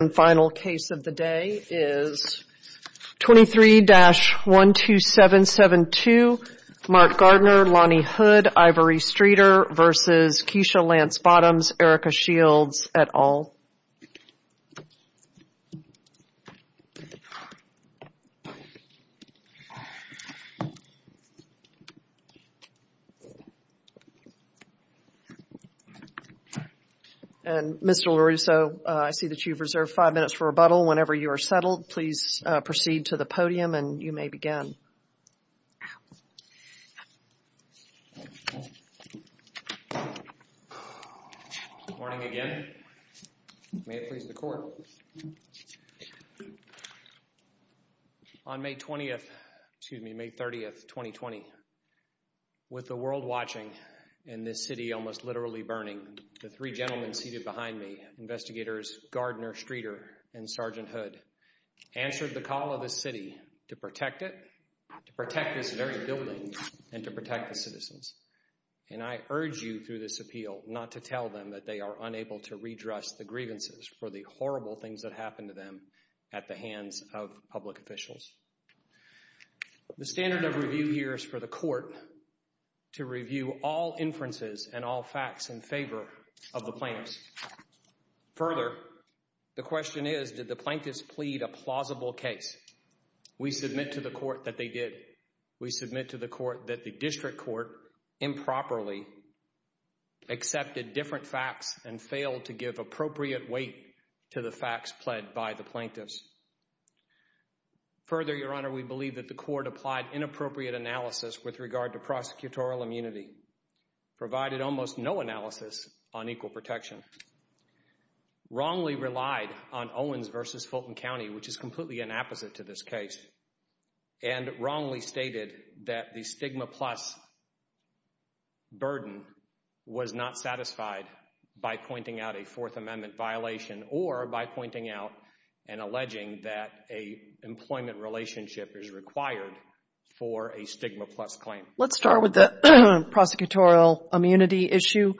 And final case of the day is 23-12772 Mark Gardner, Lonnie Hood, Ivory Streeter v. Keisha Lance Bottoms, Erica Shields, et al. And Mr. LaRusso, I see that you've reserved five minutes for rebuttal. Whenever you are settled, please proceed to the podium and you may begin. Good morning again. May it please the court. On May 20th, excuse me, May 30th, 2020, with the world watching and this city almost literally burning, the three gentlemen seated behind me, investigators Gardner, Streeter, and Sergeant Hood, answered the call of this city to protect it, to protect this very building, and to protect the citizens. And I urge you through this appeal not to tell them that they are unable to redress the grievances for the horrible things that happened to them at the hands of public officials. The standard of review here is for the court to review all inferences and all facts in favor of the plaintiffs. Further, the question is, did the plaintiffs plead a plausible case? We submit to the court that they did. We submit to the court that the district court improperly accepted different facts and failed to give appropriate weight to the facts pled by the plaintiffs. Further, Your Honor, we believe that the court applied inappropriate analysis with regard to prosecutorial immunity, provided almost no analysis on equal protection, wrongly relied on Owens versus Fulton County, which is completely an opposite to this case, and wrongly stated that the stigma plus burden was not satisfied by pointing out a Fourth Amendment violation or by pointing out and alleging that the plaintiffs did not meet the requirements. We are not alleging that a employment relationship is required for a stigma plus claim. Let's start with the prosecutorial immunity issue.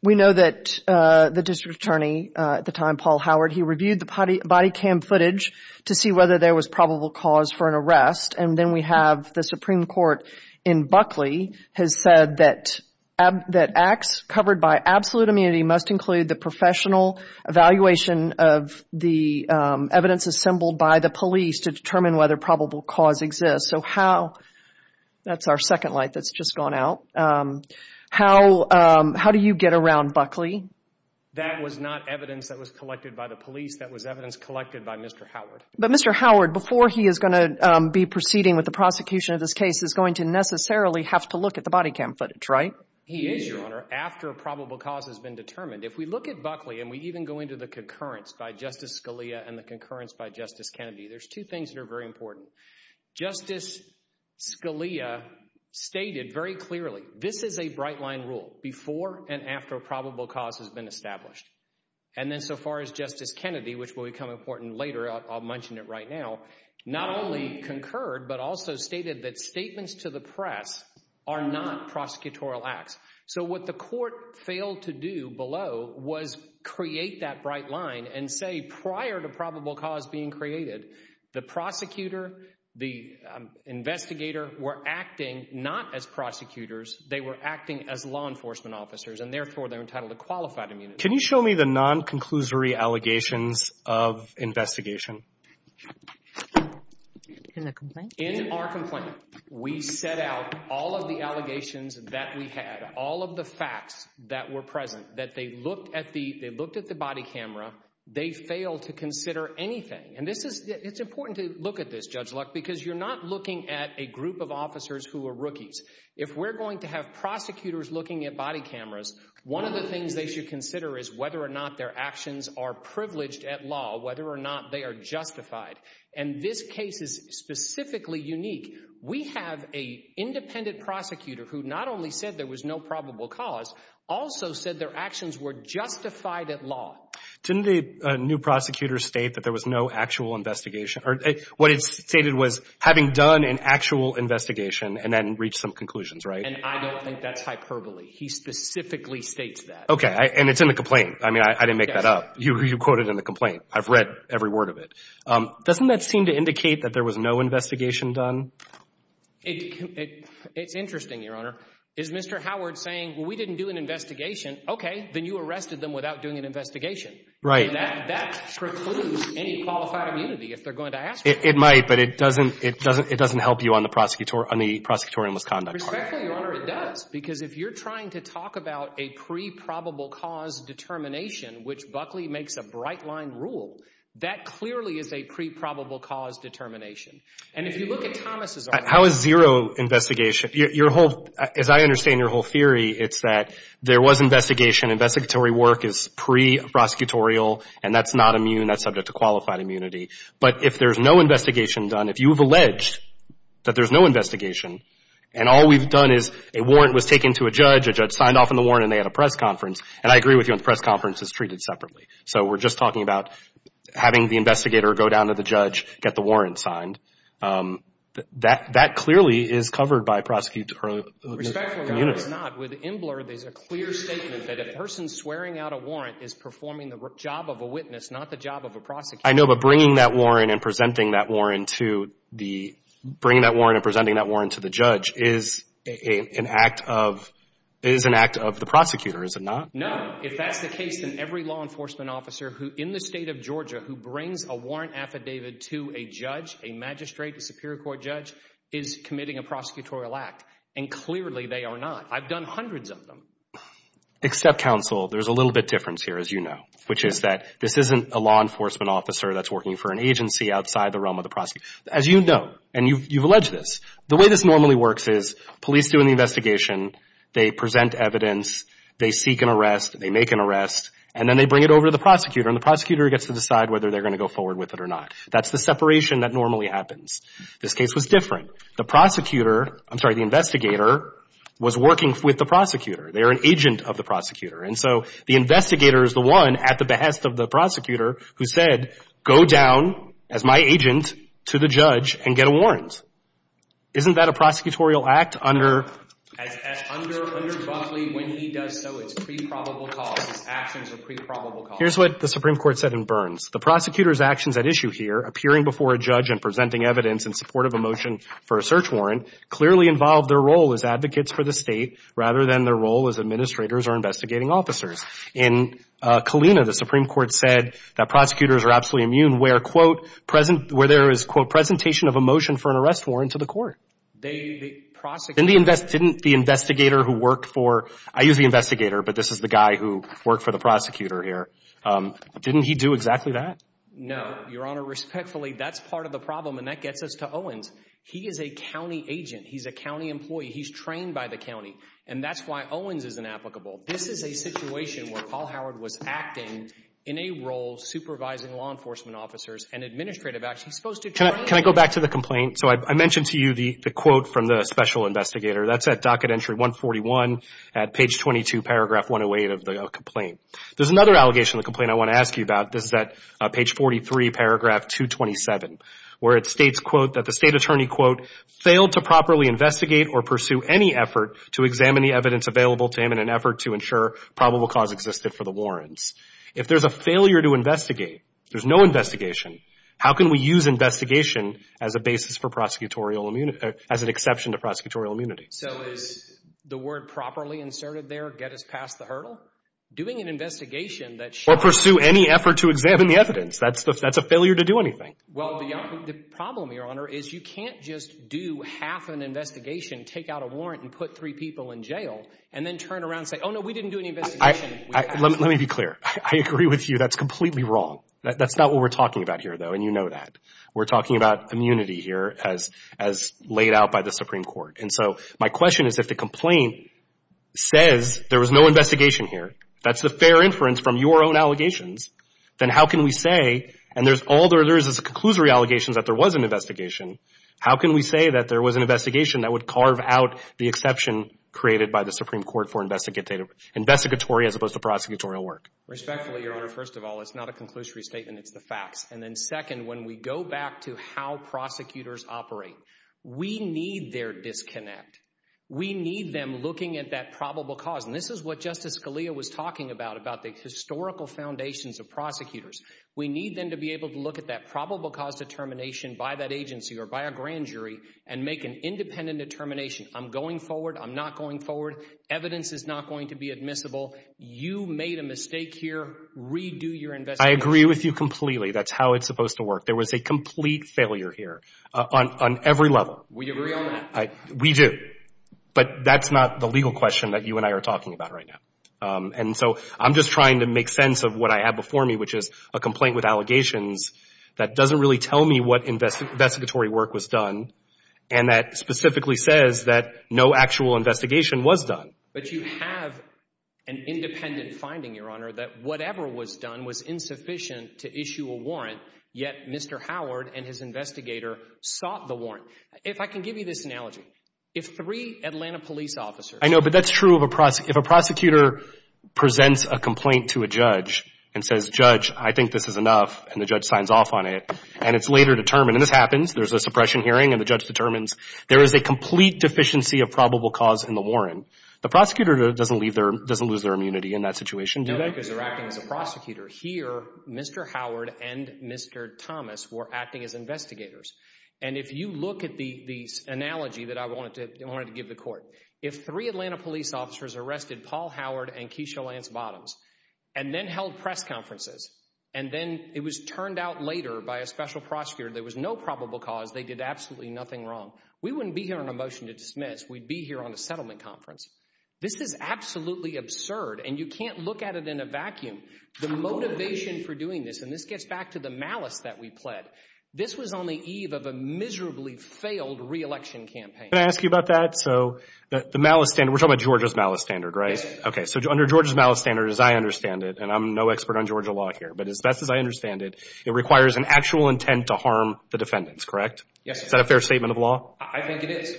We know that the district attorney at the time, Paul Howard, he reviewed the body cam footage to see whether there was probable cause for an arrest. And then we have the Supreme Court in Buckley has said that acts covered by absolute immunity must include the professional evaluation of the evidence assembled by the police to determine whether probable cause exists. So how, that's our second light that's just gone out, how do you get around Buckley? That was not evidence that was collected by the police. That was evidence collected by Mr. Howard. But Mr. Howard, before he is going to be proceeding with the prosecution of this case, is going to necessarily have to look at the body cam footage, right? He is, Your Honor, after probable cause has been determined. If we look at Buckley and we even go into the concurrence by Justice Scalia and the concurrence by Justice Kennedy, there's two things that are very important. Justice Scalia stated very clearly this is a bright line rule before and after probable cause has been established. And then so far as Justice Kennedy, which will become important later, I'll mention it right now, not only concurred but also stated that statements to the press are not prosecutorial acts. So what the court failed to do below was create that bright line and say prior to probable cause being created, the prosecutor, the investigator were acting not as prosecutors. They were acting as law enforcement officers, and therefore they're entitled to qualified immunity. Can you show me the non-conclusory allegations of investigation? In the complaint? We set out all of the allegations that we had, all of the facts that were present, that they looked at the body camera. They failed to consider anything. And this is – it's important to look at this, Judge Luck, because you're not looking at a group of officers who are rookies. If we're going to have prosecutors looking at body cameras, one of the things they should consider is whether or not their actions are privileged at law, whether or not they are justified. And this case is specifically unique. We have an independent prosecutor who not only said there was no probable cause, also said their actions were justified at law. Didn't the new prosecutor state that there was no actual investigation – or what it stated was having done an actual investigation and then reached some conclusions, right? And I don't think that's hyperbole. He specifically states that. Okay. And it's in the complaint. I mean, I didn't make that up. You quote it in the complaint. I've read every word of it. Doesn't that seem to indicate that there was no investigation done? It's interesting, Your Honor. Is Mr. Howard saying, well, we didn't do an investigation? Okay. Then you arrested them without doing an investigation. Right. And that precludes any qualified immunity if they're going to ask for it. It might, but it doesn't help you on the prosecutorial misconduct part. Respectfully, Your Honor, it does. Because if you're trying to talk about a pre-probable cause determination, which Buckley makes a bright-line rule, that clearly is a pre-probable cause determination. And if you look at Thomas's argument – How is zero investigation – your whole – as I understand your whole theory, it's that there was investigation. Investigatory work is pre-prosecutorial, and that's not immune. That's subject to qualified immunity. But if there's no investigation done, if you've alleged that there's no investigation, and all we've done is a warrant was taken to a judge, a judge signed off on the warrant, and they had a press conference, and I agree with you on the press conference, it's treated separately. So we're just talking about having the investigator go down to the judge, get the warrant signed. That clearly is covered by prosecutorial immunity. Respectfully, Your Honor, it's not. With Imbler, there's a clear statement that a person swearing out a warrant is performing the job of a witness, not the job of a prosecutor. I know, but bringing that warrant and presenting that warrant to the judge is an act of the prosecutor, is it not? No. If that's the case, then every law enforcement officer in the state of Georgia who brings a warrant affidavit to a judge, a magistrate, a superior court judge, is committing a prosecutorial act. And clearly they are not. I've done hundreds of them. Except counsel, there's a little bit difference here, as you know, which is that this isn't a law enforcement officer that's working for an agency outside the realm of the prosecutor. As you know, and you've alleged this, the way this normally works is police do an investigation, they present evidence, they seek an arrest, they make an arrest, and then they bring it over to the prosecutor, and the prosecutor gets to decide whether they're going to go forward with it or not. That's the separation that normally happens. This case was different. The prosecutor, I'm sorry, the investigator was working with the prosecutor. They are an agent of the prosecutor. And so the investigator is the one at the behest of the prosecutor who said, go down as my agent to the judge and get a warrant. Isn't that a prosecutorial act under? Under Buckley, when he does so, it's pre-probable cause. His actions are pre-probable cause. Here's what the Supreme Court said in Burns. The prosecutor's actions at issue here, appearing before a judge and presenting evidence in support of a motion for a search warrant, clearly involve their role as advocates for the state rather than their role as administrators or investigating officers. In Kalina, the Supreme Court said that prosecutors are absolutely immune where, quote, present, where there is, quote, presentation of a motion for an arrest warrant to the court. Didn't the investigator who worked for, I use the investigator, but this is the guy who worked for the prosecutor here. Didn't he do exactly that? No, Your Honor. Respectfully, that's part of the problem. And that gets us to Owens. He is a county agent. He's a county employee. He's trained by the county. And that's why Owens is inapplicable. This is a situation where Paul Howard was acting in a role supervising law enforcement officers and administrative actions. Can I go back to the complaint? So I mentioned to you the quote from the special investigator. That's at docket entry 141 at page 22, paragraph 108 of the complaint. There's another allegation in the complaint I want to ask you about. This is at page 43, paragraph 227, where it states, quote, that the state attorney, quote, failed to properly investigate or pursue any effort to examine the evidence available to him in an effort to ensure probable cause existed for the warrants. If there's a failure to investigate, there's no investigation, how can we use investigation as a basis for prosecutorial immunity, as an exception to prosecutorial immunity? So is the word properly inserted there get us past the hurdle? Doing an investigation that shows. Or pursue any effort to examine the evidence. That's a failure to do anything. Well, the problem, Your Honor, is you can't just do half an investigation, take out a warrant, and put three people in jail, and then turn around and say, oh, no, we didn't do any investigation. Let me be clear. I agree with you. That's completely wrong. That's not what we're talking about here, though, and you know that. We're talking about immunity here as laid out by the Supreme Court. And so my question is if the complaint says there was no investigation here, that's the fair inference from your own allegations, then how can we say, and there's all there is is a conclusory allegation that there was an investigation, how can we say that there was an investigation that would carve out the exception created by the Supreme Court for investigatory as opposed to prosecutorial work? Respectfully, Your Honor, first of all, it's not a conclusory statement. It's the facts. And then second, when we go back to how prosecutors operate, we need their disconnect. We need them looking at that probable cause, and this is what Justice Scalia was talking about, about the historical foundations of prosecutors. We need them to be able to look at that probable cause determination by that agency or by a grand jury and make an independent determination. I'm going forward. I'm not going forward. Evidence is not going to be admissible. You made a mistake here. Redo your investigation. I agree with you completely. That's how it's supposed to work. There was a complete failure here on every level. We agree on that. We do. But that's not the legal question that you and I are talking about right now. And so I'm just trying to make sense of what I have before me, which is a complaint with allegations that doesn't really tell me what investigatory work was done and that specifically says that no actual investigation was done. But you have an independent finding, Your Honor, that whatever was done was insufficient to issue a warrant, yet Mr. Howard and his investigator sought the warrant. If I can give you this analogy, if three Atlanta police officers— I know, but that's true of a prosecutor. If a prosecutor presents a complaint to a judge and says, Judge, I think this is enough, and the judge signs off on it, and it's later determined, and this happens, there's a suppression hearing, and the judge determines there is a complete deficiency of probable cause in the warrant, the prosecutor doesn't lose their immunity in that situation, do they? No, because they're acting as a prosecutor. Here, Mr. Howard and Mr. Thomas were acting as investigators. And if you look at the analogy that I wanted to give the court, if three Atlanta police officers arrested Paul Howard and Keisha Lance Bottoms and then held press conferences and then it was turned out later by a special prosecutor there was no probable cause, they did absolutely nothing wrong, we wouldn't be here on a motion to dismiss. We'd be here on a settlement conference. This is absolutely absurd, and you can't look at it in a vacuum. The motivation for doing this, and this gets back to the malice that we pled, this was on the eve of a miserably failed re-election campaign. Can I ask you about that? So the malice standard, we're talking about Georgia's malice standard, right? Okay, so under Georgia's malice standard, as I understand it, and I'm no expert on Georgia law here, but as best as I understand it, it requires an actual intent to harm the defendants, correct? Yes. Is that a fair statement of law? I think it is.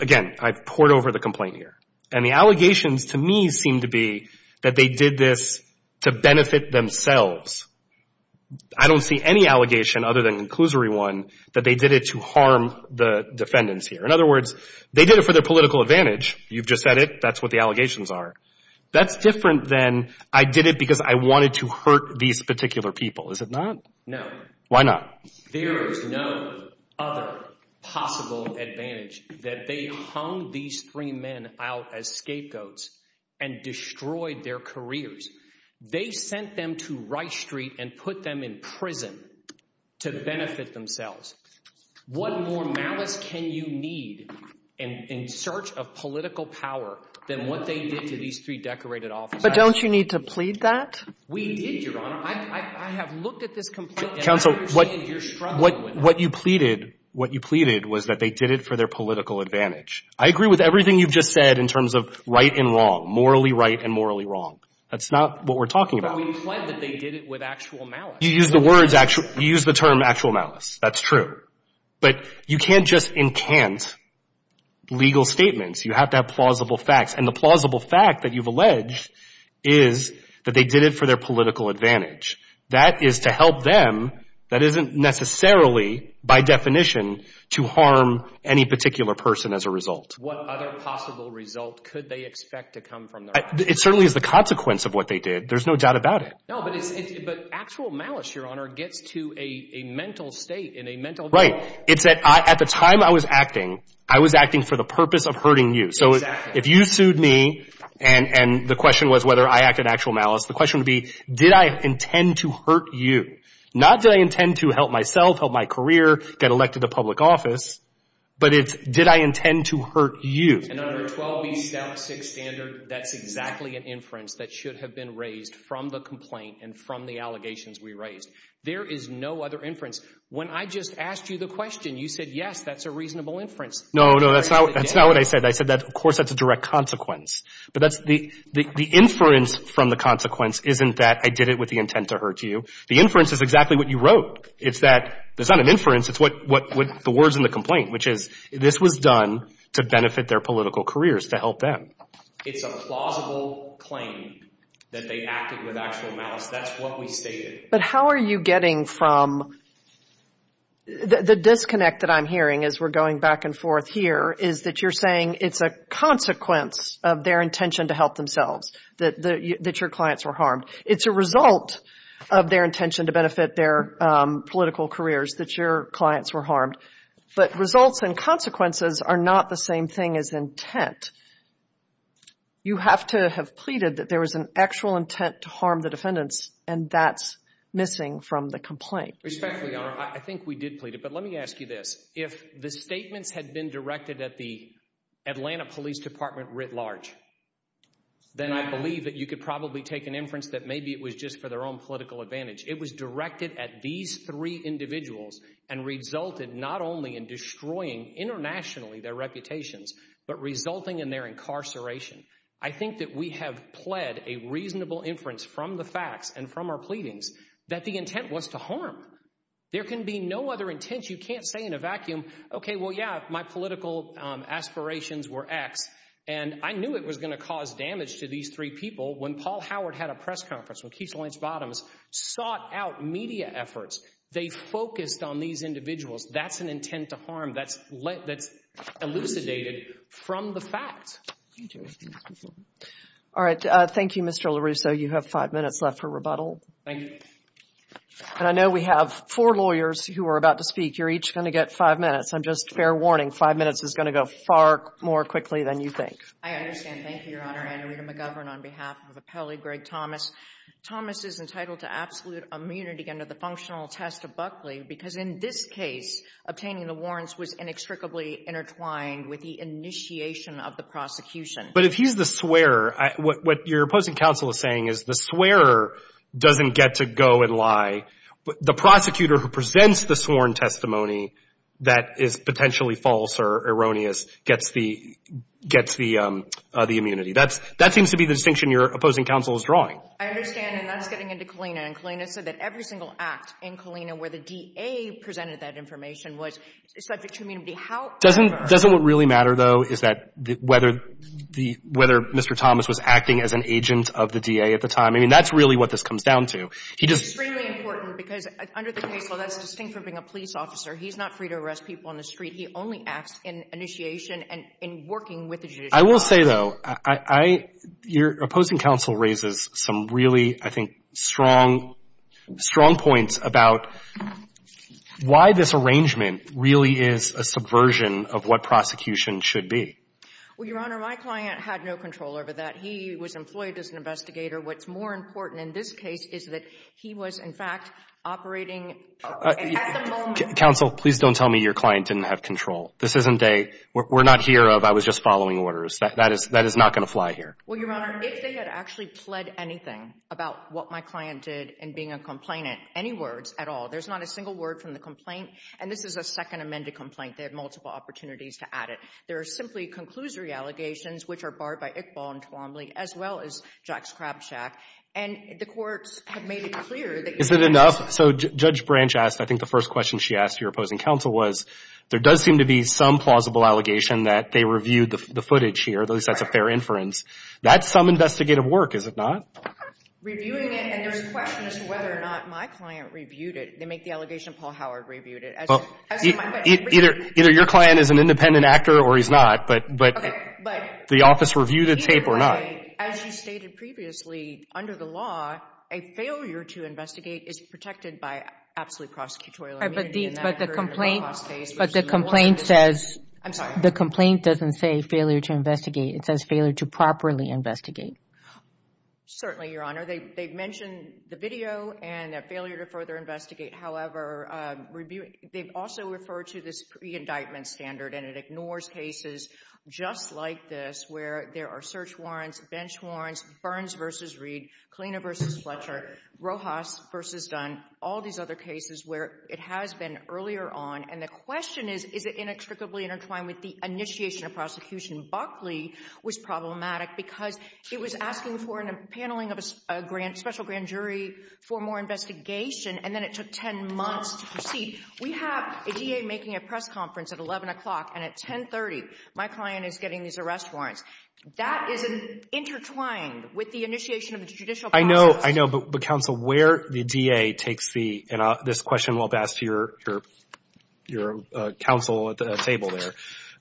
Again, I've pored over the complaint here. And the allegations to me seem to be that they did this to benefit themselves. I don't see any allegation other than Conclusory 1 that they did it to harm the defendants here. In other words, they did it for their political advantage. You've just said it. That's what the allegations are. That's different than I did it because I wanted to hurt these particular people. Is it not? Why not? There is no other possible advantage that they hung these three men out as scapegoats and destroyed their careers. They sent them to Rice Street and put them in prison to benefit themselves. What more malice can you need in search of political power than what they did to these three decorated officers? But don't you need to plead that? We did, Your Honor. I have looked at this complaint, and I understand you're struggling with it. Counsel, what you pleaded, what you pleaded was that they did it for their political advantage. I agree with everything you've just said in terms of right and wrong, morally right and morally wrong. That's not what we're talking about. But we plead that they did it with actual malice. You used the words actual – you used the term actual malice. That's true. But you can't just incant legal statements. You have to have plausible facts. And the plausible fact that you've alleged is that they did it for their political advantage. That is to help them. That isn't necessarily by definition to harm any particular person as a result. What other possible result could they expect to come from their actions? It certainly is the consequence of what they did. There's no doubt about it. No, but actual malice, Your Honor, gets to a mental state in a mental – Right. It's that at the time I was acting, I was acting for the purpose of hurting you. Exactly. So if you sued me and the question was whether I acted in actual malice, the question would be did I intend to hurt you? Not did I intend to help myself, help my career, get elected to public office, but it's did I intend to hurt you? And under 12B Statute 6 standard, that's exactly an inference that should have been raised from the complaint and from the allegations we raised. There is no other inference. When I just asked you the question, you said, yes, that's a reasonable inference. No, no, that's not what I said. I said that, of course, that's a direct consequence. But that's – the inference from the consequence isn't that I did it with the intent to hurt you. The inference is exactly what you wrote. It's that there's not an inference. It's what – the words in the complaint, which is this was done to benefit their political careers, to help them. It's a plausible claim that they acted with actual malice. That's what we stated. But how are you getting from – the disconnect that I'm hearing as we're going back and forth here is that you're saying it's a consequence of their intention to help themselves, that your clients were harmed. It's a result of their intention to benefit their political careers that your clients were harmed. But results and consequences are not the same thing as intent. You have to have pleaded that there was an actual intent to harm the defendants, and that's missing from the complaint. Respectfully, Your Honor, I think we did plead it. But let me ask you this. If the statements had been directed at the Atlanta Police Department writ large, then I believe that you could probably take an inference that maybe it was just for their own political advantage. It was directed at these three individuals and resulted not only in destroying internationally their reputations but resulting in their incarceration. I think that we have pled a reasonable inference from the facts and from our pleadings that the intent was to harm. There can be no other intent. You can't say in a vacuum, okay, well, yeah, my political aspirations were X, and I knew it was going to cause damage to these three people. When Paul Howard had a press conference, when Keith Lynch Bottoms sought out media efforts, they focused on these individuals. That's an intent to harm that's elucidated from the facts. All right. Thank you, Mr. LaRusso. You have five minutes left for rebuttal. Thank you. And I know we have four lawyers who are about to speak. You're each going to get five minutes. I'm just fair warning, five minutes is going to go far more quickly than you think. I understand. Thank you, Your Honor. Anna Rita McGovern on behalf of Appellee Greg Thomas. Thomas is entitled to absolute immunity under the functional test of Buckley because in this case, obtaining the warrants was inextricably intertwined with the initiation of the prosecution. But if he's the swearer, what your opposing counsel is saying is the swearer doesn't get to go and lie. The prosecutor who presents the sworn testimony that is potentially false or erroneous gets the immunity. That seems to be the distinction your opposing counsel is drawing. I understand, and that's getting into Kalina, and Kalina said that every single act in Kalina where the DA presented that information was subject to immunity. Doesn't what really matter, though, is that whether Mr. Thomas was acting as an agent of the DA at the time. I mean, that's really what this comes down to. It's extremely important because under the case law, that's distinct from being a police officer. He's not free to arrest people on the street. He only acts in initiation and in working with the judiciary. I will say, though, your opposing counsel raises some really, I think, strong points about why this arrangement really is a subversion of what prosecution should be. Well, Your Honor, my client had no control over that. He was employed as an investigator. What's more important in this case is that he was, in fact, operating at the moment. Counsel, please don't tell me your client didn't have control. This isn't a, we're not here of, I was just following orders. That is not going to fly here. Well, Your Honor, if they had actually pled anything about what my client did in being a complainant, any words at all, there's not a single word from the complaint. And this is a second amended complaint. They have multiple opportunities to add it. There are simply conclusory allegations, which are barred by Iqbal and Twombly, as well as Jax-Krabschack. And the courts have made it clear that you can't. Is it enough? So Judge Branch asked, I think the first question she asked your opposing counsel was, there does seem to be some plausible allegation that they reviewed the footage here, at least that's a fair inference. That's some investigative work, is it not? Reviewing it, and there's questions whether or not my client reviewed it. They make the allegation Paul Howard reviewed it. Either your client is an independent actor or he's not, but the office reviewed the tape or not. As you stated previously, under the law, a failure to investigate is protected by absolute prosecutorial immunity. But the complaint says, the complaint doesn't say failure to investigate. It says failure to properly investigate. Certainly, Your Honor. They've mentioned the video and that failure to further investigate. However, they've also referred to this pre-indictment standard, and it ignores cases just like this, where there are search warrants, bench warrants, Burns v. Reed, Kalina v. Fletcher, Rojas v. Dunn, all these other cases where it has been earlier on. And the question is, is it inextricably intertwined with the initiation of prosecution? Buckley was problematic because it was asking for a paneling of a special grand jury for more investigation, and then it took 10 months to proceed. We have a DA making a press conference at 11 o'clock, and at 10.30, my client is getting these arrest warrants. That is intertwined with the initiation of the judicial process. I know. I know. But, counsel, where the DA takes the — and this question will have asked your counsel at the table there.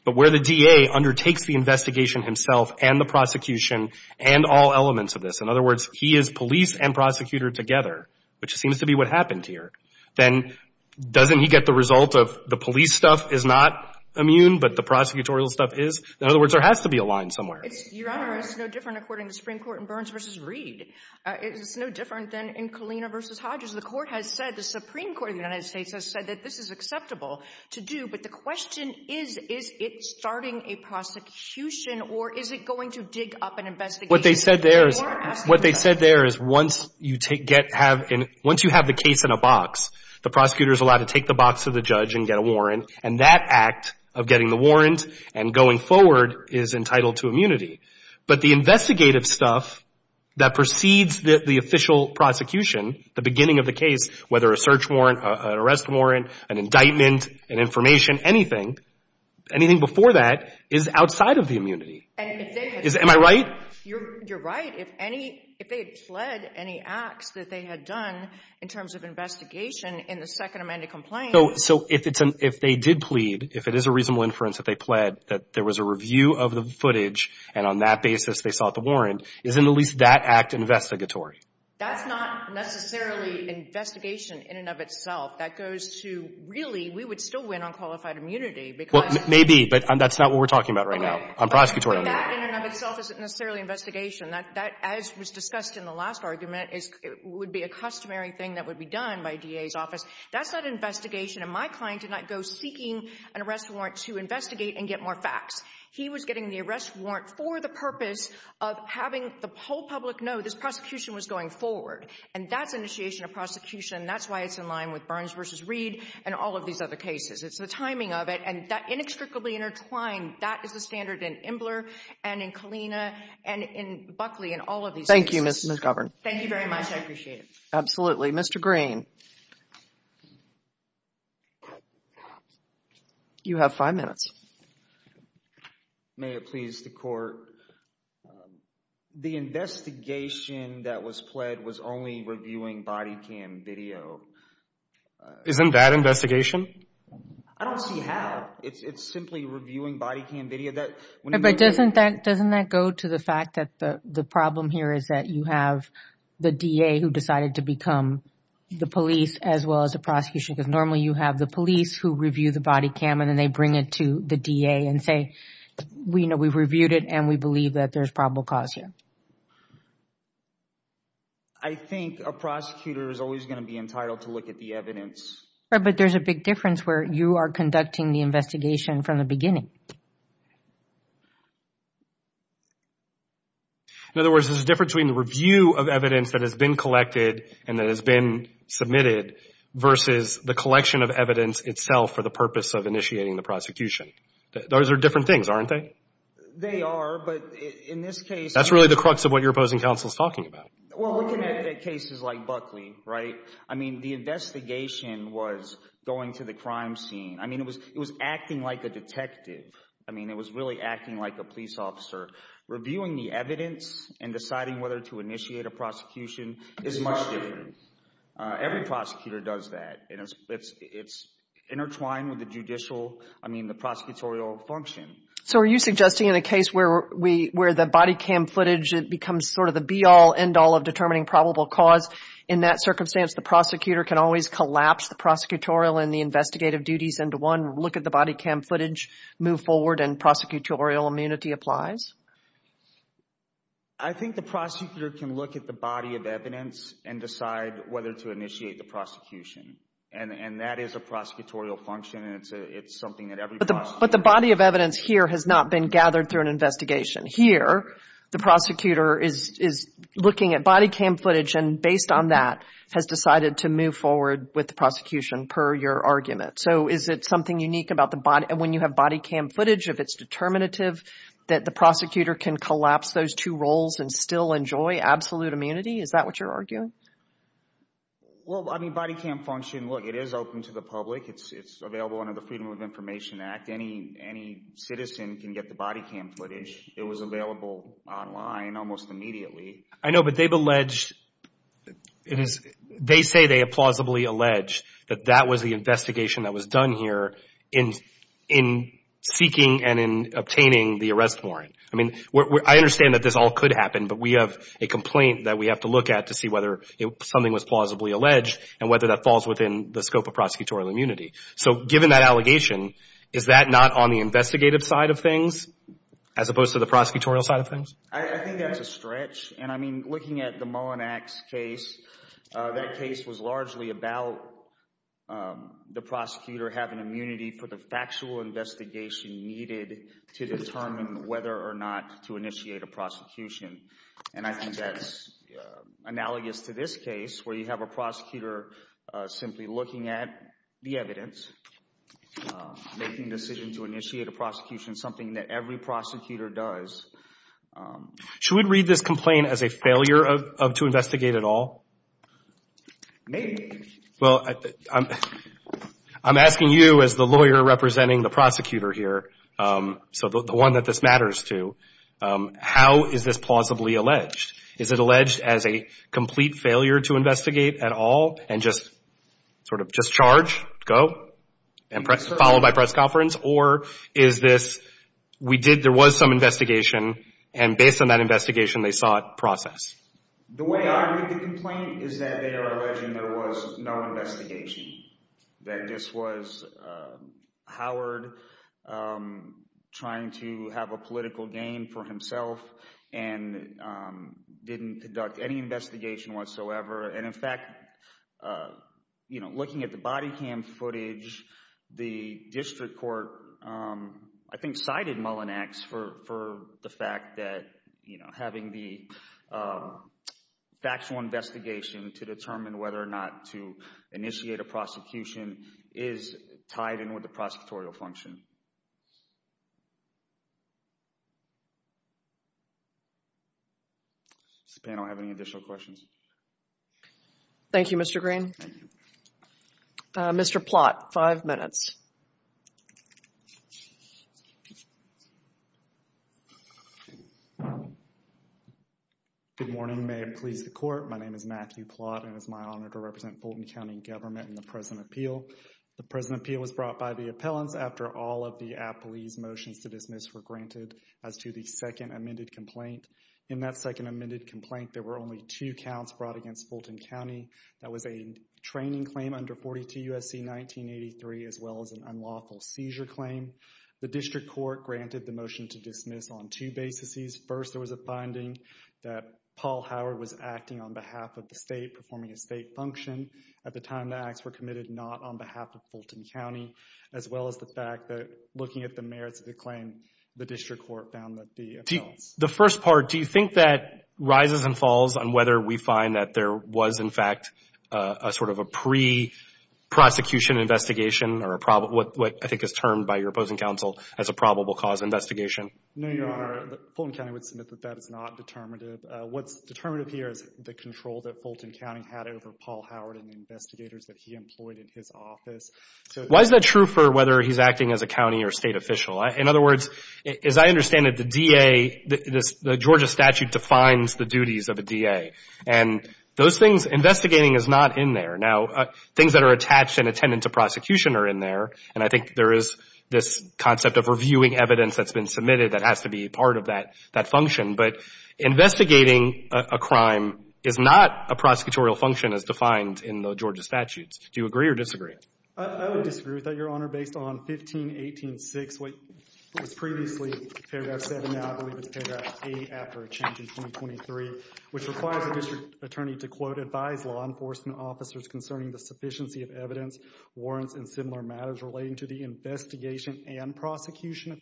But where the DA undertakes the investigation himself and the prosecution and all elements of this, in other words, he is police and prosecutor together, which seems to be what happened here, then doesn't he get the result of the police stuff is not immune, but the prosecutorial stuff is? In other words, there has to be a line somewhere. Your Honor, it's no different, according to the Supreme Court, in Burns v. Reed. It's no different than in Kalina v. Hodges. The Supreme Court of the United States has said that this is acceptable to do, but the question is, is it starting a prosecution or is it going to dig up an investigation? What they said there is once you have the case in a box, the prosecutor is allowed to take the box to the judge and get a warrant, and that act of getting the warrant and going forward is entitled to immunity. But the investigative stuff that precedes the official prosecution, the beginning of the case, whether a search warrant, an arrest warrant, an indictment, an information, anything, anything before that is outside of the immunity. Am I right? You're right. If they had pled any acts that they had done in terms of investigation in the Second Amendment complaint— So if they did plead, if it is a reasonable inference that they pled, that there was a review of the footage and on that basis they sought the warrant, isn't at least that act investigatory? That's not necessarily investigation in and of itself. That goes to, really, we would still win on qualified immunity because— Well, maybe, but that's not what we're talking about right now. Okay. On prosecutorial— That in and of itself isn't necessarily investigation. That, as was discussed in the last argument, would be a customary thing that would be done by DA's office. That's not investigation. And my client did not go seeking an arrest warrant to investigate and get more facts. He was getting the arrest warrant for the purpose of having the whole public know this prosecution was going forward. And that's initiation of prosecution. That's why it's in line with Burns v. Reed and all of these other cases. It's the timing of it. And that inextricably intertwined, that is the standard in Imbler and in Kalina and in Buckley and all of these cases. Thank you, Ms. Govern. Thank you very much. I appreciate it. Absolutely. Mr. Green. You have five minutes. May it please the court. The investigation that was pled was only reviewing body cam video. Isn't that investigation? I don't see how. It's simply reviewing body cam video. But doesn't that go to the fact that the problem here is that you have the DA who decided to become the police as well as the prosecution? Because normally you have the police who review the body cam and then they bring it to the DA and say, you know, we've reviewed it and we believe that there's probable cause here. I think a prosecutor is always going to be entitled to look at the evidence. But there's a big difference where you are conducting the investigation from the beginning. In other words, there's a difference between the review of evidence that has been collected and that has been submitted versus the collection of evidence itself for the purpose of initiating the prosecution. Those are different things, aren't they? They are. But in this case. That's really the crux of what your opposing counsel is talking about. Well, looking at cases like Buckley, right, I mean, the investigation was going to the crime scene. I mean, it was acting like a detective. I mean, it was really acting like a police officer. Reviewing the evidence and deciding whether to initiate a prosecution is much different. Every prosecutor does that. It's intertwined with the judicial, I mean, the prosecutorial function. So are you suggesting in a case where the body cam footage becomes sort of the be-all, end-all of determining probable cause, in that circumstance the prosecutor can always collapse the prosecutorial and the investigative duties into one, look at the body cam footage, move forward, and prosecutorial immunity applies? I think the prosecutor can look at the body of evidence and decide whether to initiate the prosecution. And that is a prosecutorial function, and it's something that every prosecutor does. But the body of evidence here has not been gathered through an investigation. Here, the prosecutor is looking at body cam footage, and based on that, has decided to move forward with the prosecution per your argument. So is it something unique about when you have body cam footage, if it's determinative, that the prosecutor can collapse those two roles and still enjoy absolute immunity? Is that what you're arguing? Well, I mean, body cam function, look, it is open to the public. It's available under the Freedom of Information Act. Any citizen can get the body cam footage. It was available online almost immediately. I know, but they've alleged, they say they have plausibly alleged that that was the investigation that was done here in seeking and in obtaining the arrest warrant. I mean, I understand that this all could happen, but we have a complaint that we have to look at to see whether something was plausibly alleged and whether that falls within the scope of prosecutorial immunity. So given that allegation, is that not on the investigative side of things as opposed to the prosecutorial side of things? I think that's a stretch, and I mean, looking at the Mullinax case, that case was largely about the prosecutor having immunity for the factual investigation needed to determine whether or not to initiate a prosecution. And I think that's analogous to this case where you have a prosecutor simply looking at the evidence, making a decision to initiate a prosecution, something that every prosecutor does. Should we read this complaint as a failure to investigate at all? Maybe. Well, I'm asking you as the lawyer representing the prosecutor here, so the one that this matters to, how is this plausibly alleged? Is it alleged as a complete failure to investigate at all and just sort of just charge, go, and followed by press conference? Or is this, we did, there was some investigation, and based on that investigation, they saw it process? The way I read the complaint is that they are alleging there was no investigation, that this was Howard trying to have a political game for himself and didn't conduct any investigation whatsoever. And, in fact, looking at the body cam footage, the district court, I think, cited Mullinax for the fact that having the factual investigation to determine whether or not to initiate a prosecution is tied in with the prosecutorial function. Does the panel have any additional questions? Thank you, Mr. Green. Thank you. Mr. Plott, five minutes. Good morning. May it please the court. My name is Matthew Plott, and it's my honor to represent Fulton County Government in the present appeal. The present appeal was brought by the appellants after all of the appellees' motions to dismiss were granted as to the second amended complaint. In that second amended complaint, there were only two counts brought against Fulton County. That was a training claim under 42 U.S.C. 1983 as well as an unlawful seizure claim. The district court granted the motion to dismiss on two bases. First, there was a finding that Paul Howard was acting on behalf of the state, performing a state function at the time the acts were committed, not on behalf of Fulton County, as well as the fact that looking at the merits of the claim, the district court found that the appellants The first part, do you think that rises and falls on whether we find that there was, in fact, a sort of a pre-prosecution investigation or what I think is termed by your opposing counsel as a probable cause investigation? No, Your Honor. Fulton County would submit that that is not determinative. What's determinative here is the control that Fulton County had over Paul Howard and the investigators that he employed in his office. Why is that true for whether he's acting as a county or state official? In other words, as I understand it, the DA, the Georgia statute defines the duties of a DA. And those things, investigating is not in there. Now, things that are attached and attended to prosecution are in there. And I think there is this concept of reviewing evidence that's been submitted that has to be part of that function. But investigating a crime is not a prosecutorial function as defined in the Georgia statutes. Do you agree or disagree? I would disagree with that, Your Honor, based on 1518.6, which was previously paragraph 7. Now, I believe it's paragraph 8 after a change in 2023, which requires a district attorney to, quote, Right.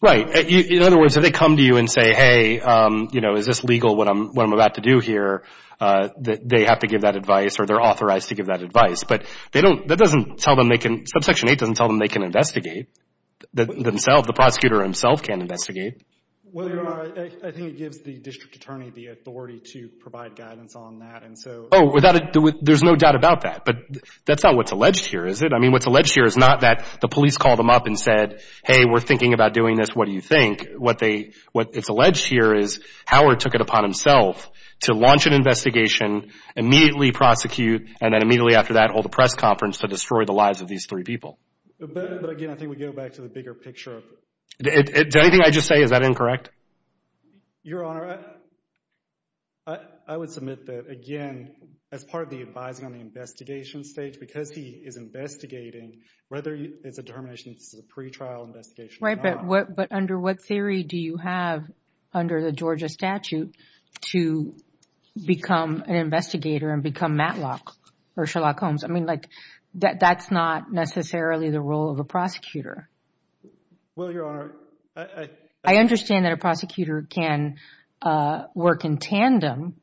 In other words, if they come to you and say, hey, you know, is this legal, what I'm about to do here, they have to give that advice or they're authorized to give that advice. But they don't – that doesn't tell them they can – subsection 8 doesn't tell them they can investigate themselves. The prosecutor himself can't investigate. Well, Your Honor, I think it gives the district attorney the authority to provide guidance on that. Oh, there's no doubt about that. But that's not what's alleged here, is it? I mean, what's alleged here is not that the police called them up and said, hey, we're thinking about doing this. What do you think? What they – what is alleged here is Howard took it upon himself to launch an investigation, immediately prosecute, and then immediately after that hold a press conference to destroy the lives of these three people. But, again, I think we go back to the bigger picture. Did anything I just say, is that incorrect? Your Honor, I would submit that, again, as part of the advising on the investigation stage, because he is investigating, whether it's a determination this is a pretrial investigation or not. Right, but under what theory do you have, under the Georgia statute, to become an investigator and become Matlock or Sherlock Holmes? I mean, like, that's not necessarily the role of a prosecutor. Well, Your Honor, I – I understand that a prosecutor can work in tandem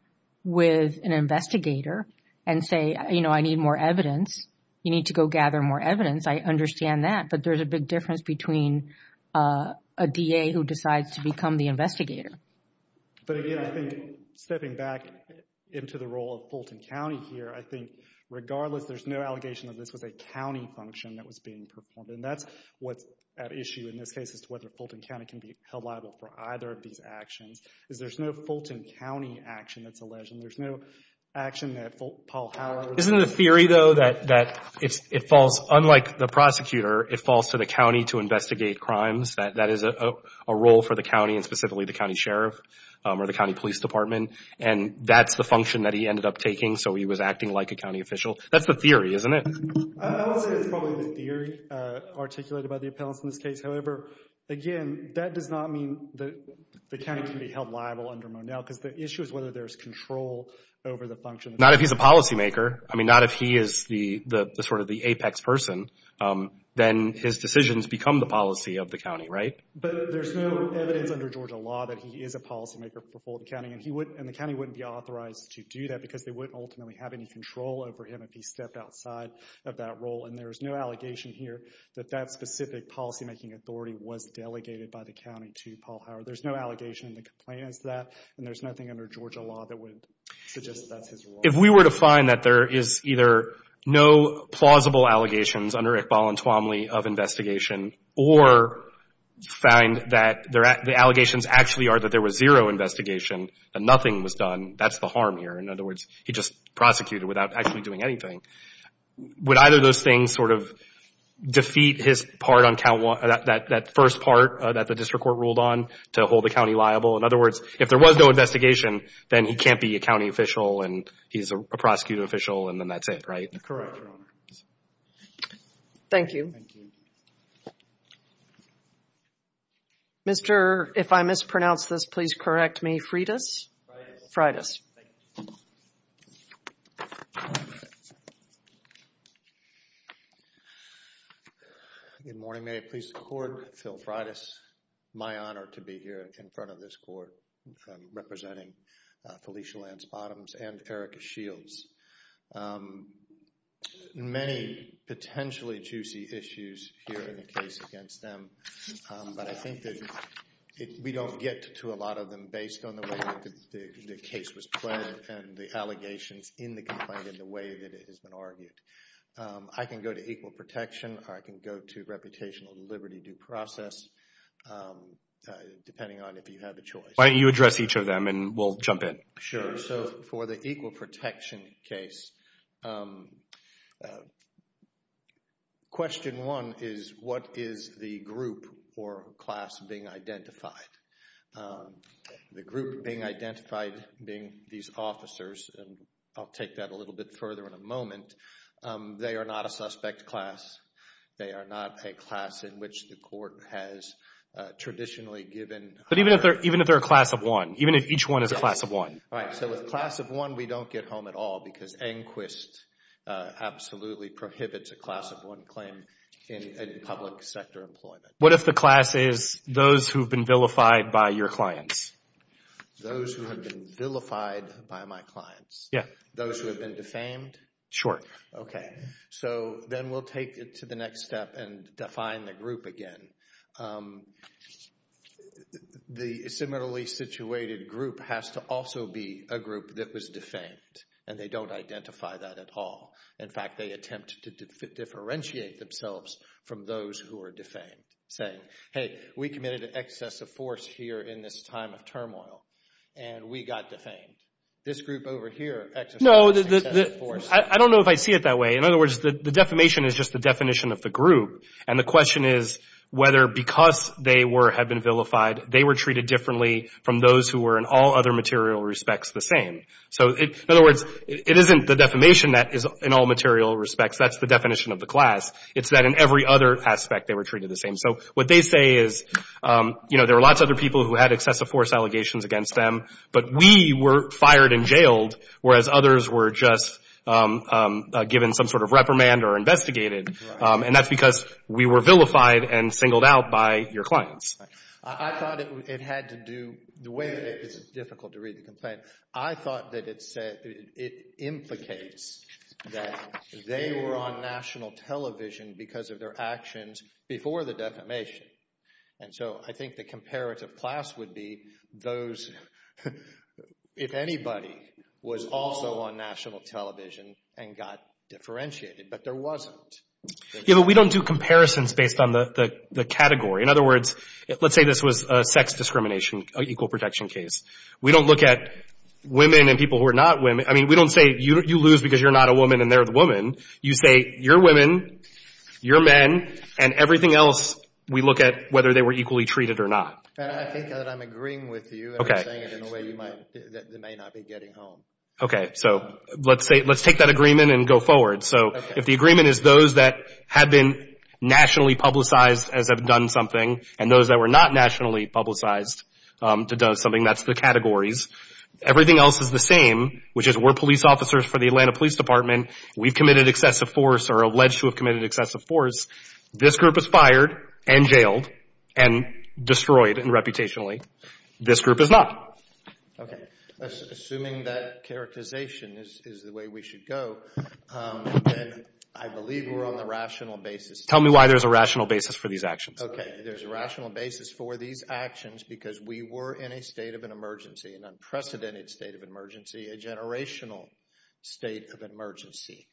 with an investigator and say, you know, I need more evidence. You need to go gather more evidence. I understand that, but there's a big difference between a DA who decides to become the investigator. But, again, I think stepping back into the role of Fulton County here, I think regardless there's no allegation that this was a county function that was being performed. And that's what's at issue in this case as to whether Fulton County can be held liable for either of these actions, is there's no Fulton County action that's alleged, and there's no action that Paul Howard – Isn't it a theory, though, that it falls, unlike the prosecutor, it falls to the county to investigate crimes, that that is a role for the county and specifically the county sheriff or the county police department, and that's the function that he ended up taking, so he was acting like a county official? That's the theory, isn't it? I would say it's probably the theory articulated by the appellants in this case. However, again, that does not mean that the county can be held liable under Monell because the issue is whether there's control over the function. Not if he's a policymaker. I mean, not if he is sort of the apex person. Then his decisions become the policy of the county, right? But there's no evidence under Georgia law that he is a policymaker for Fulton County, and the county wouldn't be authorized to do that because they wouldn't ultimately have any control over him if he stepped outside of that role. And there's no allegation here that that specific policymaking authority was delegated by the county to Paul Howard. There's no allegation in the complaint as to that, and there's nothing under Georgia law that would suggest that that's his role. If we were to find that there is either no plausible allegations under Iqbal and Tuamli of investigation or find that the allegations actually are that there was zero investigation, that nothing was done, that's the harm here. In other words, he just prosecuted without actually doing anything. Would either of those things sort of defeat his part on that first part that the district court ruled on to hold the county liable? In other words, if there was no investigation, then he can't be a county official and he's a prosecutor official, and then that's it, right? Correct, Your Honor. Thank you. Thank you. Mr., if I mispronounce this, please correct me, Freitas? Thank you. Good morning. May it please the Court? Phil Freitas. My honor to be here in front of this Court representing Felicia Lance Bottoms and Eric Shields. Many potentially juicy issues here in the case against them, but I think that we don't get to a lot of them based on the way the case was played and the allegations in the complaint and the way that it has been argued. I can go to equal protection or I can go to reputational liberty due process, depending on if you have a choice. Why don't you address each of them and we'll jump in. Sure. So for the equal protection case, question one is what is the group or class being identified? The group being identified being these officers, and I'll take that a little bit further in a moment. They are not a suspect class. They are not a class in which the Court has traditionally given— But even if they're a class of one, even if each one is a class of one. Right. So with class of one, we don't get home at all because ANQUIST absolutely prohibits a class of one claim in public sector employment. What if the class is those who have been vilified by your clients? Those who have been vilified by my clients? Yeah. Those who have been defamed? Sure. Okay. So then we'll take it to the next step and define the group again. The similarly situated group has to also be a group that was defamed, and they don't identify that at all. In fact, they attempt to differentiate themselves from those who are defamed, saying, hey, we committed an excess of force here in this time of turmoil, and we got defamed. This group over here— No, I don't know if I see it that way. In other words, the defamation is just the definition of the group, and the question is whether because they have been vilified, they were treated differently from those who were in all other material respects the same. So in other words, it isn't the defamation that is in all material respects. That's the definition of the class. It's that in every other aspect they were treated the same. So what they say is, you know, there were lots of other people who had excessive force allegations against them, but we were fired and jailed, whereas others were just given some sort of reprimand or investigated. And that's because we were vilified and singled out by your clients. I thought it had to do—the way that it—it's difficult to read the complaint. I thought that it said—it implicates that they were on national television because of their actions before the defamation. And so I think the comparative class would be those— if anybody was also on national television and got differentiated, but there wasn't. Yeah, but we don't do comparisons based on the category. In other words, let's say this was a sex discrimination, an equal protection case. We don't look at women and people who are not women. I mean, we don't say, you lose because you're not a woman and they're the woman. You say, you're women, you're men, and everything else we look at whether they were equally treated or not. And I think that I'm agreeing with you. Okay. And I'm saying it in a way you might—they may not be getting home. Okay. So let's take that agreement and go forward. So if the agreement is those that have been nationally publicized as have done something and those that were not nationally publicized to do something, that's the categories. Everything else is the same, which is we're police officers for the Atlanta Police Department. We've committed excessive force or are alleged to have committed excessive force. This group was fired and jailed and destroyed reputationally. This group is not. Okay. Assuming that characterization is the way we should go, then I believe we're on the rational basis. Tell me why there's a rational basis for these actions. Okay. There's a rational basis for these actions because we were in a state of an emergency, an unprecedented state of emergency, a generational state of emergency.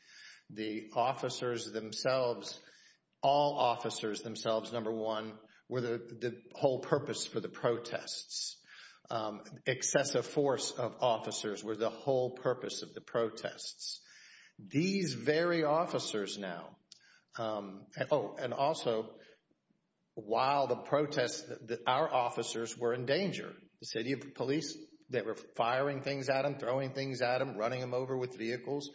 The officers themselves, all officers themselves, number one, were the whole purpose for the protests. Excessive force of officers were the whole purpose of the protests. These very officers now—oh, and also while the protests, our officers were in danger. The city police, they were firing things at them, throwing things at them, running them over with vehicles.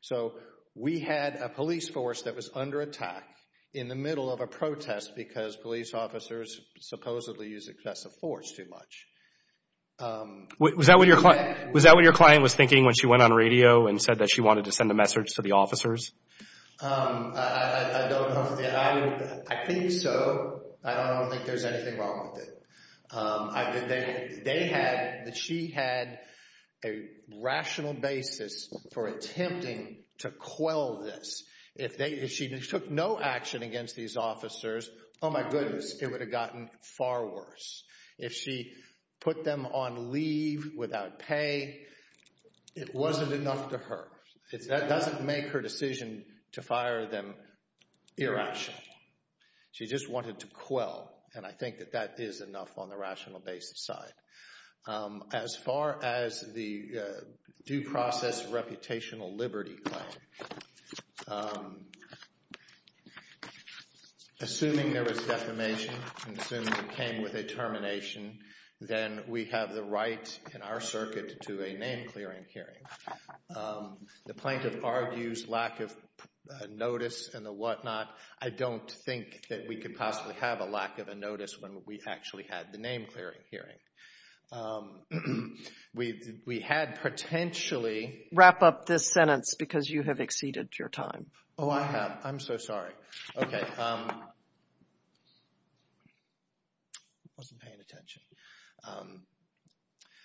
So we had a police force that was under attack in the middle of a protest because police officers supposedly used excessive force too much. Was that what your client was thinking when she went on radio and said that she wanted to send a message to the officers? I don't know. I think so. I don't think there's anything wrong with it. They had—she had a rational basis for attempting to quell this. If she took no action against these officers, oh my goodness, it would have gotten far worse. If she put them on leave without pay, it wasn't enough to her. That doesn't make her decision to fire them irrational. She just wanted to quell, and I think that that is enough on the rational basis side. As far as the due process reputational liberty claim, assuming there was defamation and assuming it came with a termination, then we have the right in our circuit to a name-clearing hearing. The plaintiff argues lack of notice and the whatnot. I don't think that we could possibly have a lack of a notice when we actually had the name-clearing hearing. We had potentially— Wrap up this sentence because you have exceeded your time. Oh, I have. I'm so sorry. Okay. I wasn't paying attention.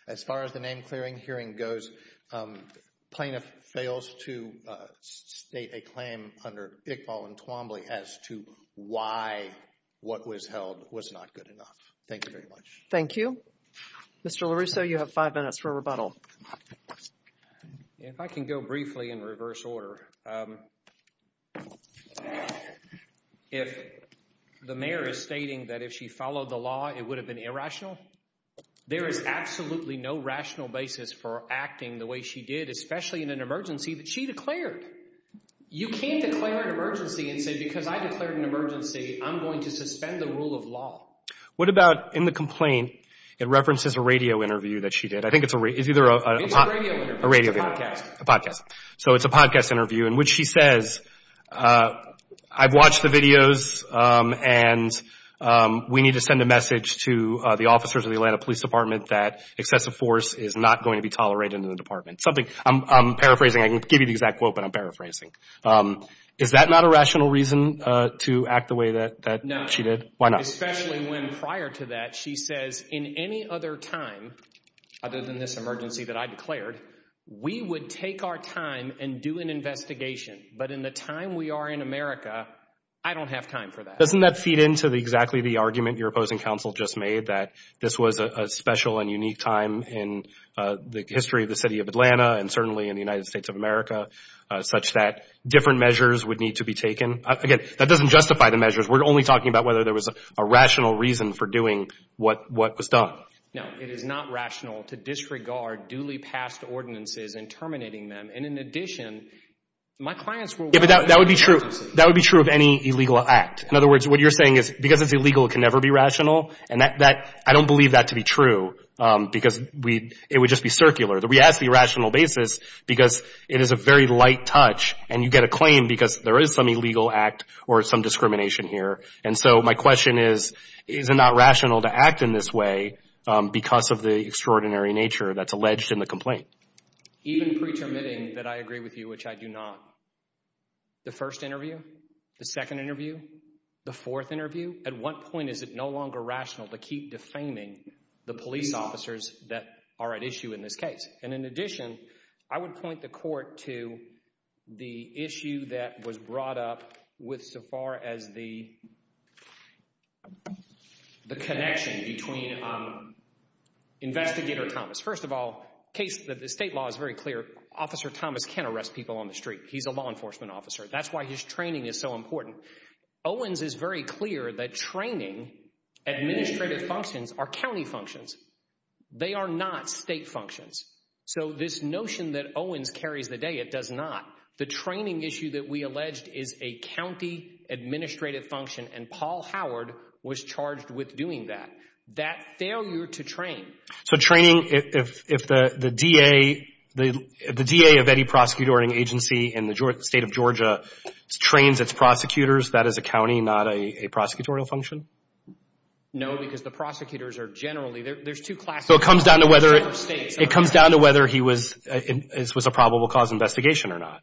As far as the name-clearing hearing goes, plaintiff fails to state a claim under Iqbal and Twombly as to why what was held was not good enough. Thank you very much. Thank you. Mr. LaRusso, you have five minutes for rebuttal. If I can go briefly in reverse order. If the mayor is stating that if she followed the law, it would have been irrational, there is absolutely no rational basis for acting the way she did, especially in an emergency that she declared. You can't declare an emergency and say, because I declared an emergency, I'm going to suspend the rule of law. What about in the complaint, it references a radio interview that she did. I think it's either a radio interview. A podcast. So it's a podcast interview in which she says, I've watched the videos, and we need to send a message to the officers of the Atlanta Police Department that excessive force is not going to be tolerated in the department. I'm paraphrasing. I can give you the exact quote, but I'm paraphrasing. Is that not a rational reason to act the way that she did? Why not? Especially when, prior to that, she says, in any other time other than this emergency that I declared, we would take our time and do an investigation. But in the time we are in America, I don't have time for that. Doesn't that feed into exactly the argument your opposing counsel just made, that this was a special and unique time in the history of the city of Atlanta and certainly in the United States of America, such that different measures would need to be taken? Again, that doesn't justify the measures. We're only talking about whether there was a rational reason for doing what was done. No, it is not rational to disregard duly passed ordinances and terminating them. And in addition, my clients were— Yeah, but that would be true. That would be true of any illegal act. In other words, what you're saying is because it's illegal, it can never be rational. And I don't believe that to be true because it would just be circular. We ask the irrational basis because it is a very light touch, and you get a claim because there is some illegal act or some discrimination here. And so my question is, is it not rational to act in this way because of the extraordinary nature that's alleged in the complaint? Even pretermitting that I agree with you, which I do not, the first interview, the second interview, the fourth interview, at what point is it no longer rational to keep defaming the police officers that are at issue in this case? And in addition, I would point the court to the issue that was brought up with so far as the connection between Investigator Thomas. First of all, the state law is very clear. Officer Thomas can't arrest people on the street. He's a law enforcement officer. That's why his training is so important. Owens is very clear that training, administrative functions are county functions. They are not state functions. So this notion that Owens carries the day, it does not. The training issue that we alleged is a county administrative function, and Paul Howard was charged with doing that, that failure to train. So training, if the DA of any prosecutorial agency in the state of Georgia trains its prosecutors, that is a county, not a prosecutorial function? No, because the prosecutors are generally, there's two classes. So it comes down to whether he was a probable cause investigation or not?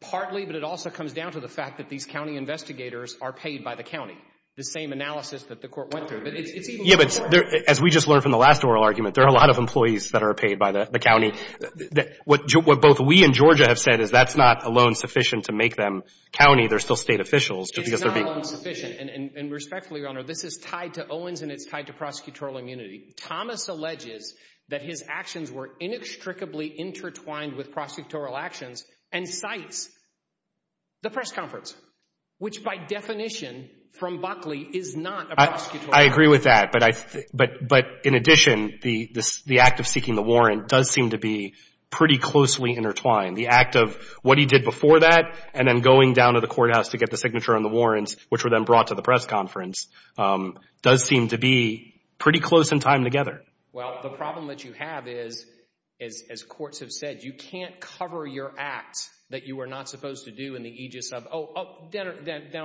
Partly, but it also comes down to the fact that these county investigators are paid by the county, the same analysis that the court went through. Yeah, but as we just learned from the last oral argument, there are a lot of employees that are paid by the county. What both we and Georgia have said is that's not a loan sufficient to make them county. They're still state officials. It's not a loan sufficient, and respectfully, Your Honor, this is tied to Owens and it's tied to prosecutorial immunity. Thomas alleges that his actions were inextricably intertwined with prosecutorial actions and cites the press conference, which by definition from Buckley is not a prosecutorial action. I agree with that. But in addition, the act of seeking the warrant does seem to be pretty closely intertwined. The act of what he did before that and then going down to the courthouse to get the signature on the warrants, which were then brought to the press conference, does seem to be pretty close in time together. Well, the problem that you have is, as courts have said, you can't cover your act that you were not supposed to do in the aegis of, oh, down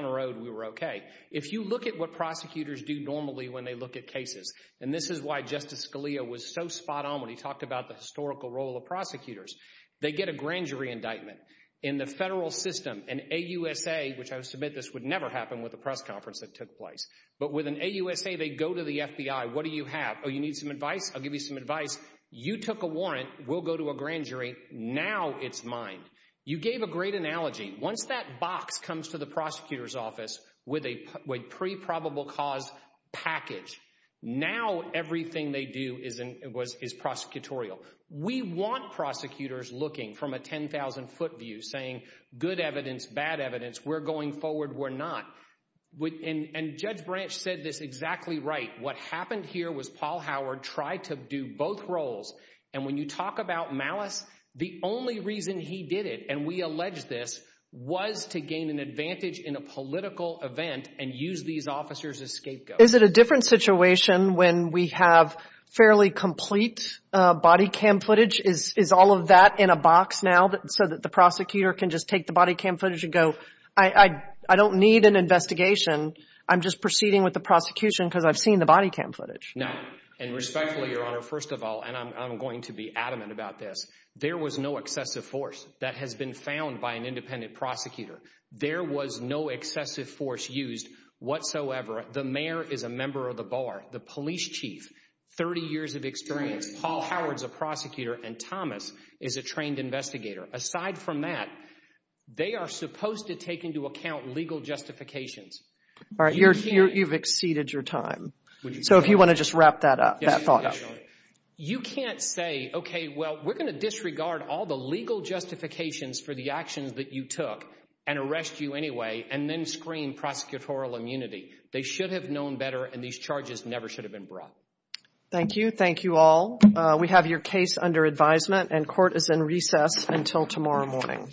the road we were okay. If you look at what prosecutors do normally when they look at cases, and this is why Justice Scalia was so spot on when he talked about the historical role of prosecutors, they get a grand jury indictment. In the federal system, an AUSA, which I submit this would never happen with the press conference that took place, but with an AUSA they go to the FBI. What do you have? Oh, you need some advice? I'll give you some advice. You took a warrant. We'll go to a grand jury. Now it's mine. You gave a great analogy. Once that box comes to the prosecutor's office with a pre-probable cause package, now everything they do is prosecutorial. We want prosecutors looking from a 10,000-foot view, saying good evidence, bad evidence. We're going forward. We're not. And Judge Branch said this exactly right. What happened here was Paul Howard tried to do both roles, and when you talk about malice, the only reason he did it, and we allege this, was to gain an advantage in a political event and use these officers as scapegoats. Is it a different situation when we have fairly complete body cam footage? Is all of that in a box now so that the prosecutor can just take the body cam footage and go, I don't need an investigation. I'm just proceeding with the prosecution because I've seen the body cam footage. No, and respectfully, Your Honor, first of all, and I'm going to be adamant about this, there was no excessive force that has been found by an independent prosecutor. There was no excessive force used whatsoever. The mayor is a member of the bar. The police chief, 30 years of experience. Paul Howard is a prosecutor, and Thomas is a trained investigator. Aside from that, they are supposed to take into account legal justifications. All right, you've exceeded your time. So if you want to just wrap that up, that thought. You can't say, okay, well, we're going to disregard all the legal justifications for the actions that you took and arrest you anyway and then screen prosecutorial immunity. They should have known better, and these charges never should have been brought. Thank you. Thank you all. We have your case under advisement, and court is in recess until tomorrow morning.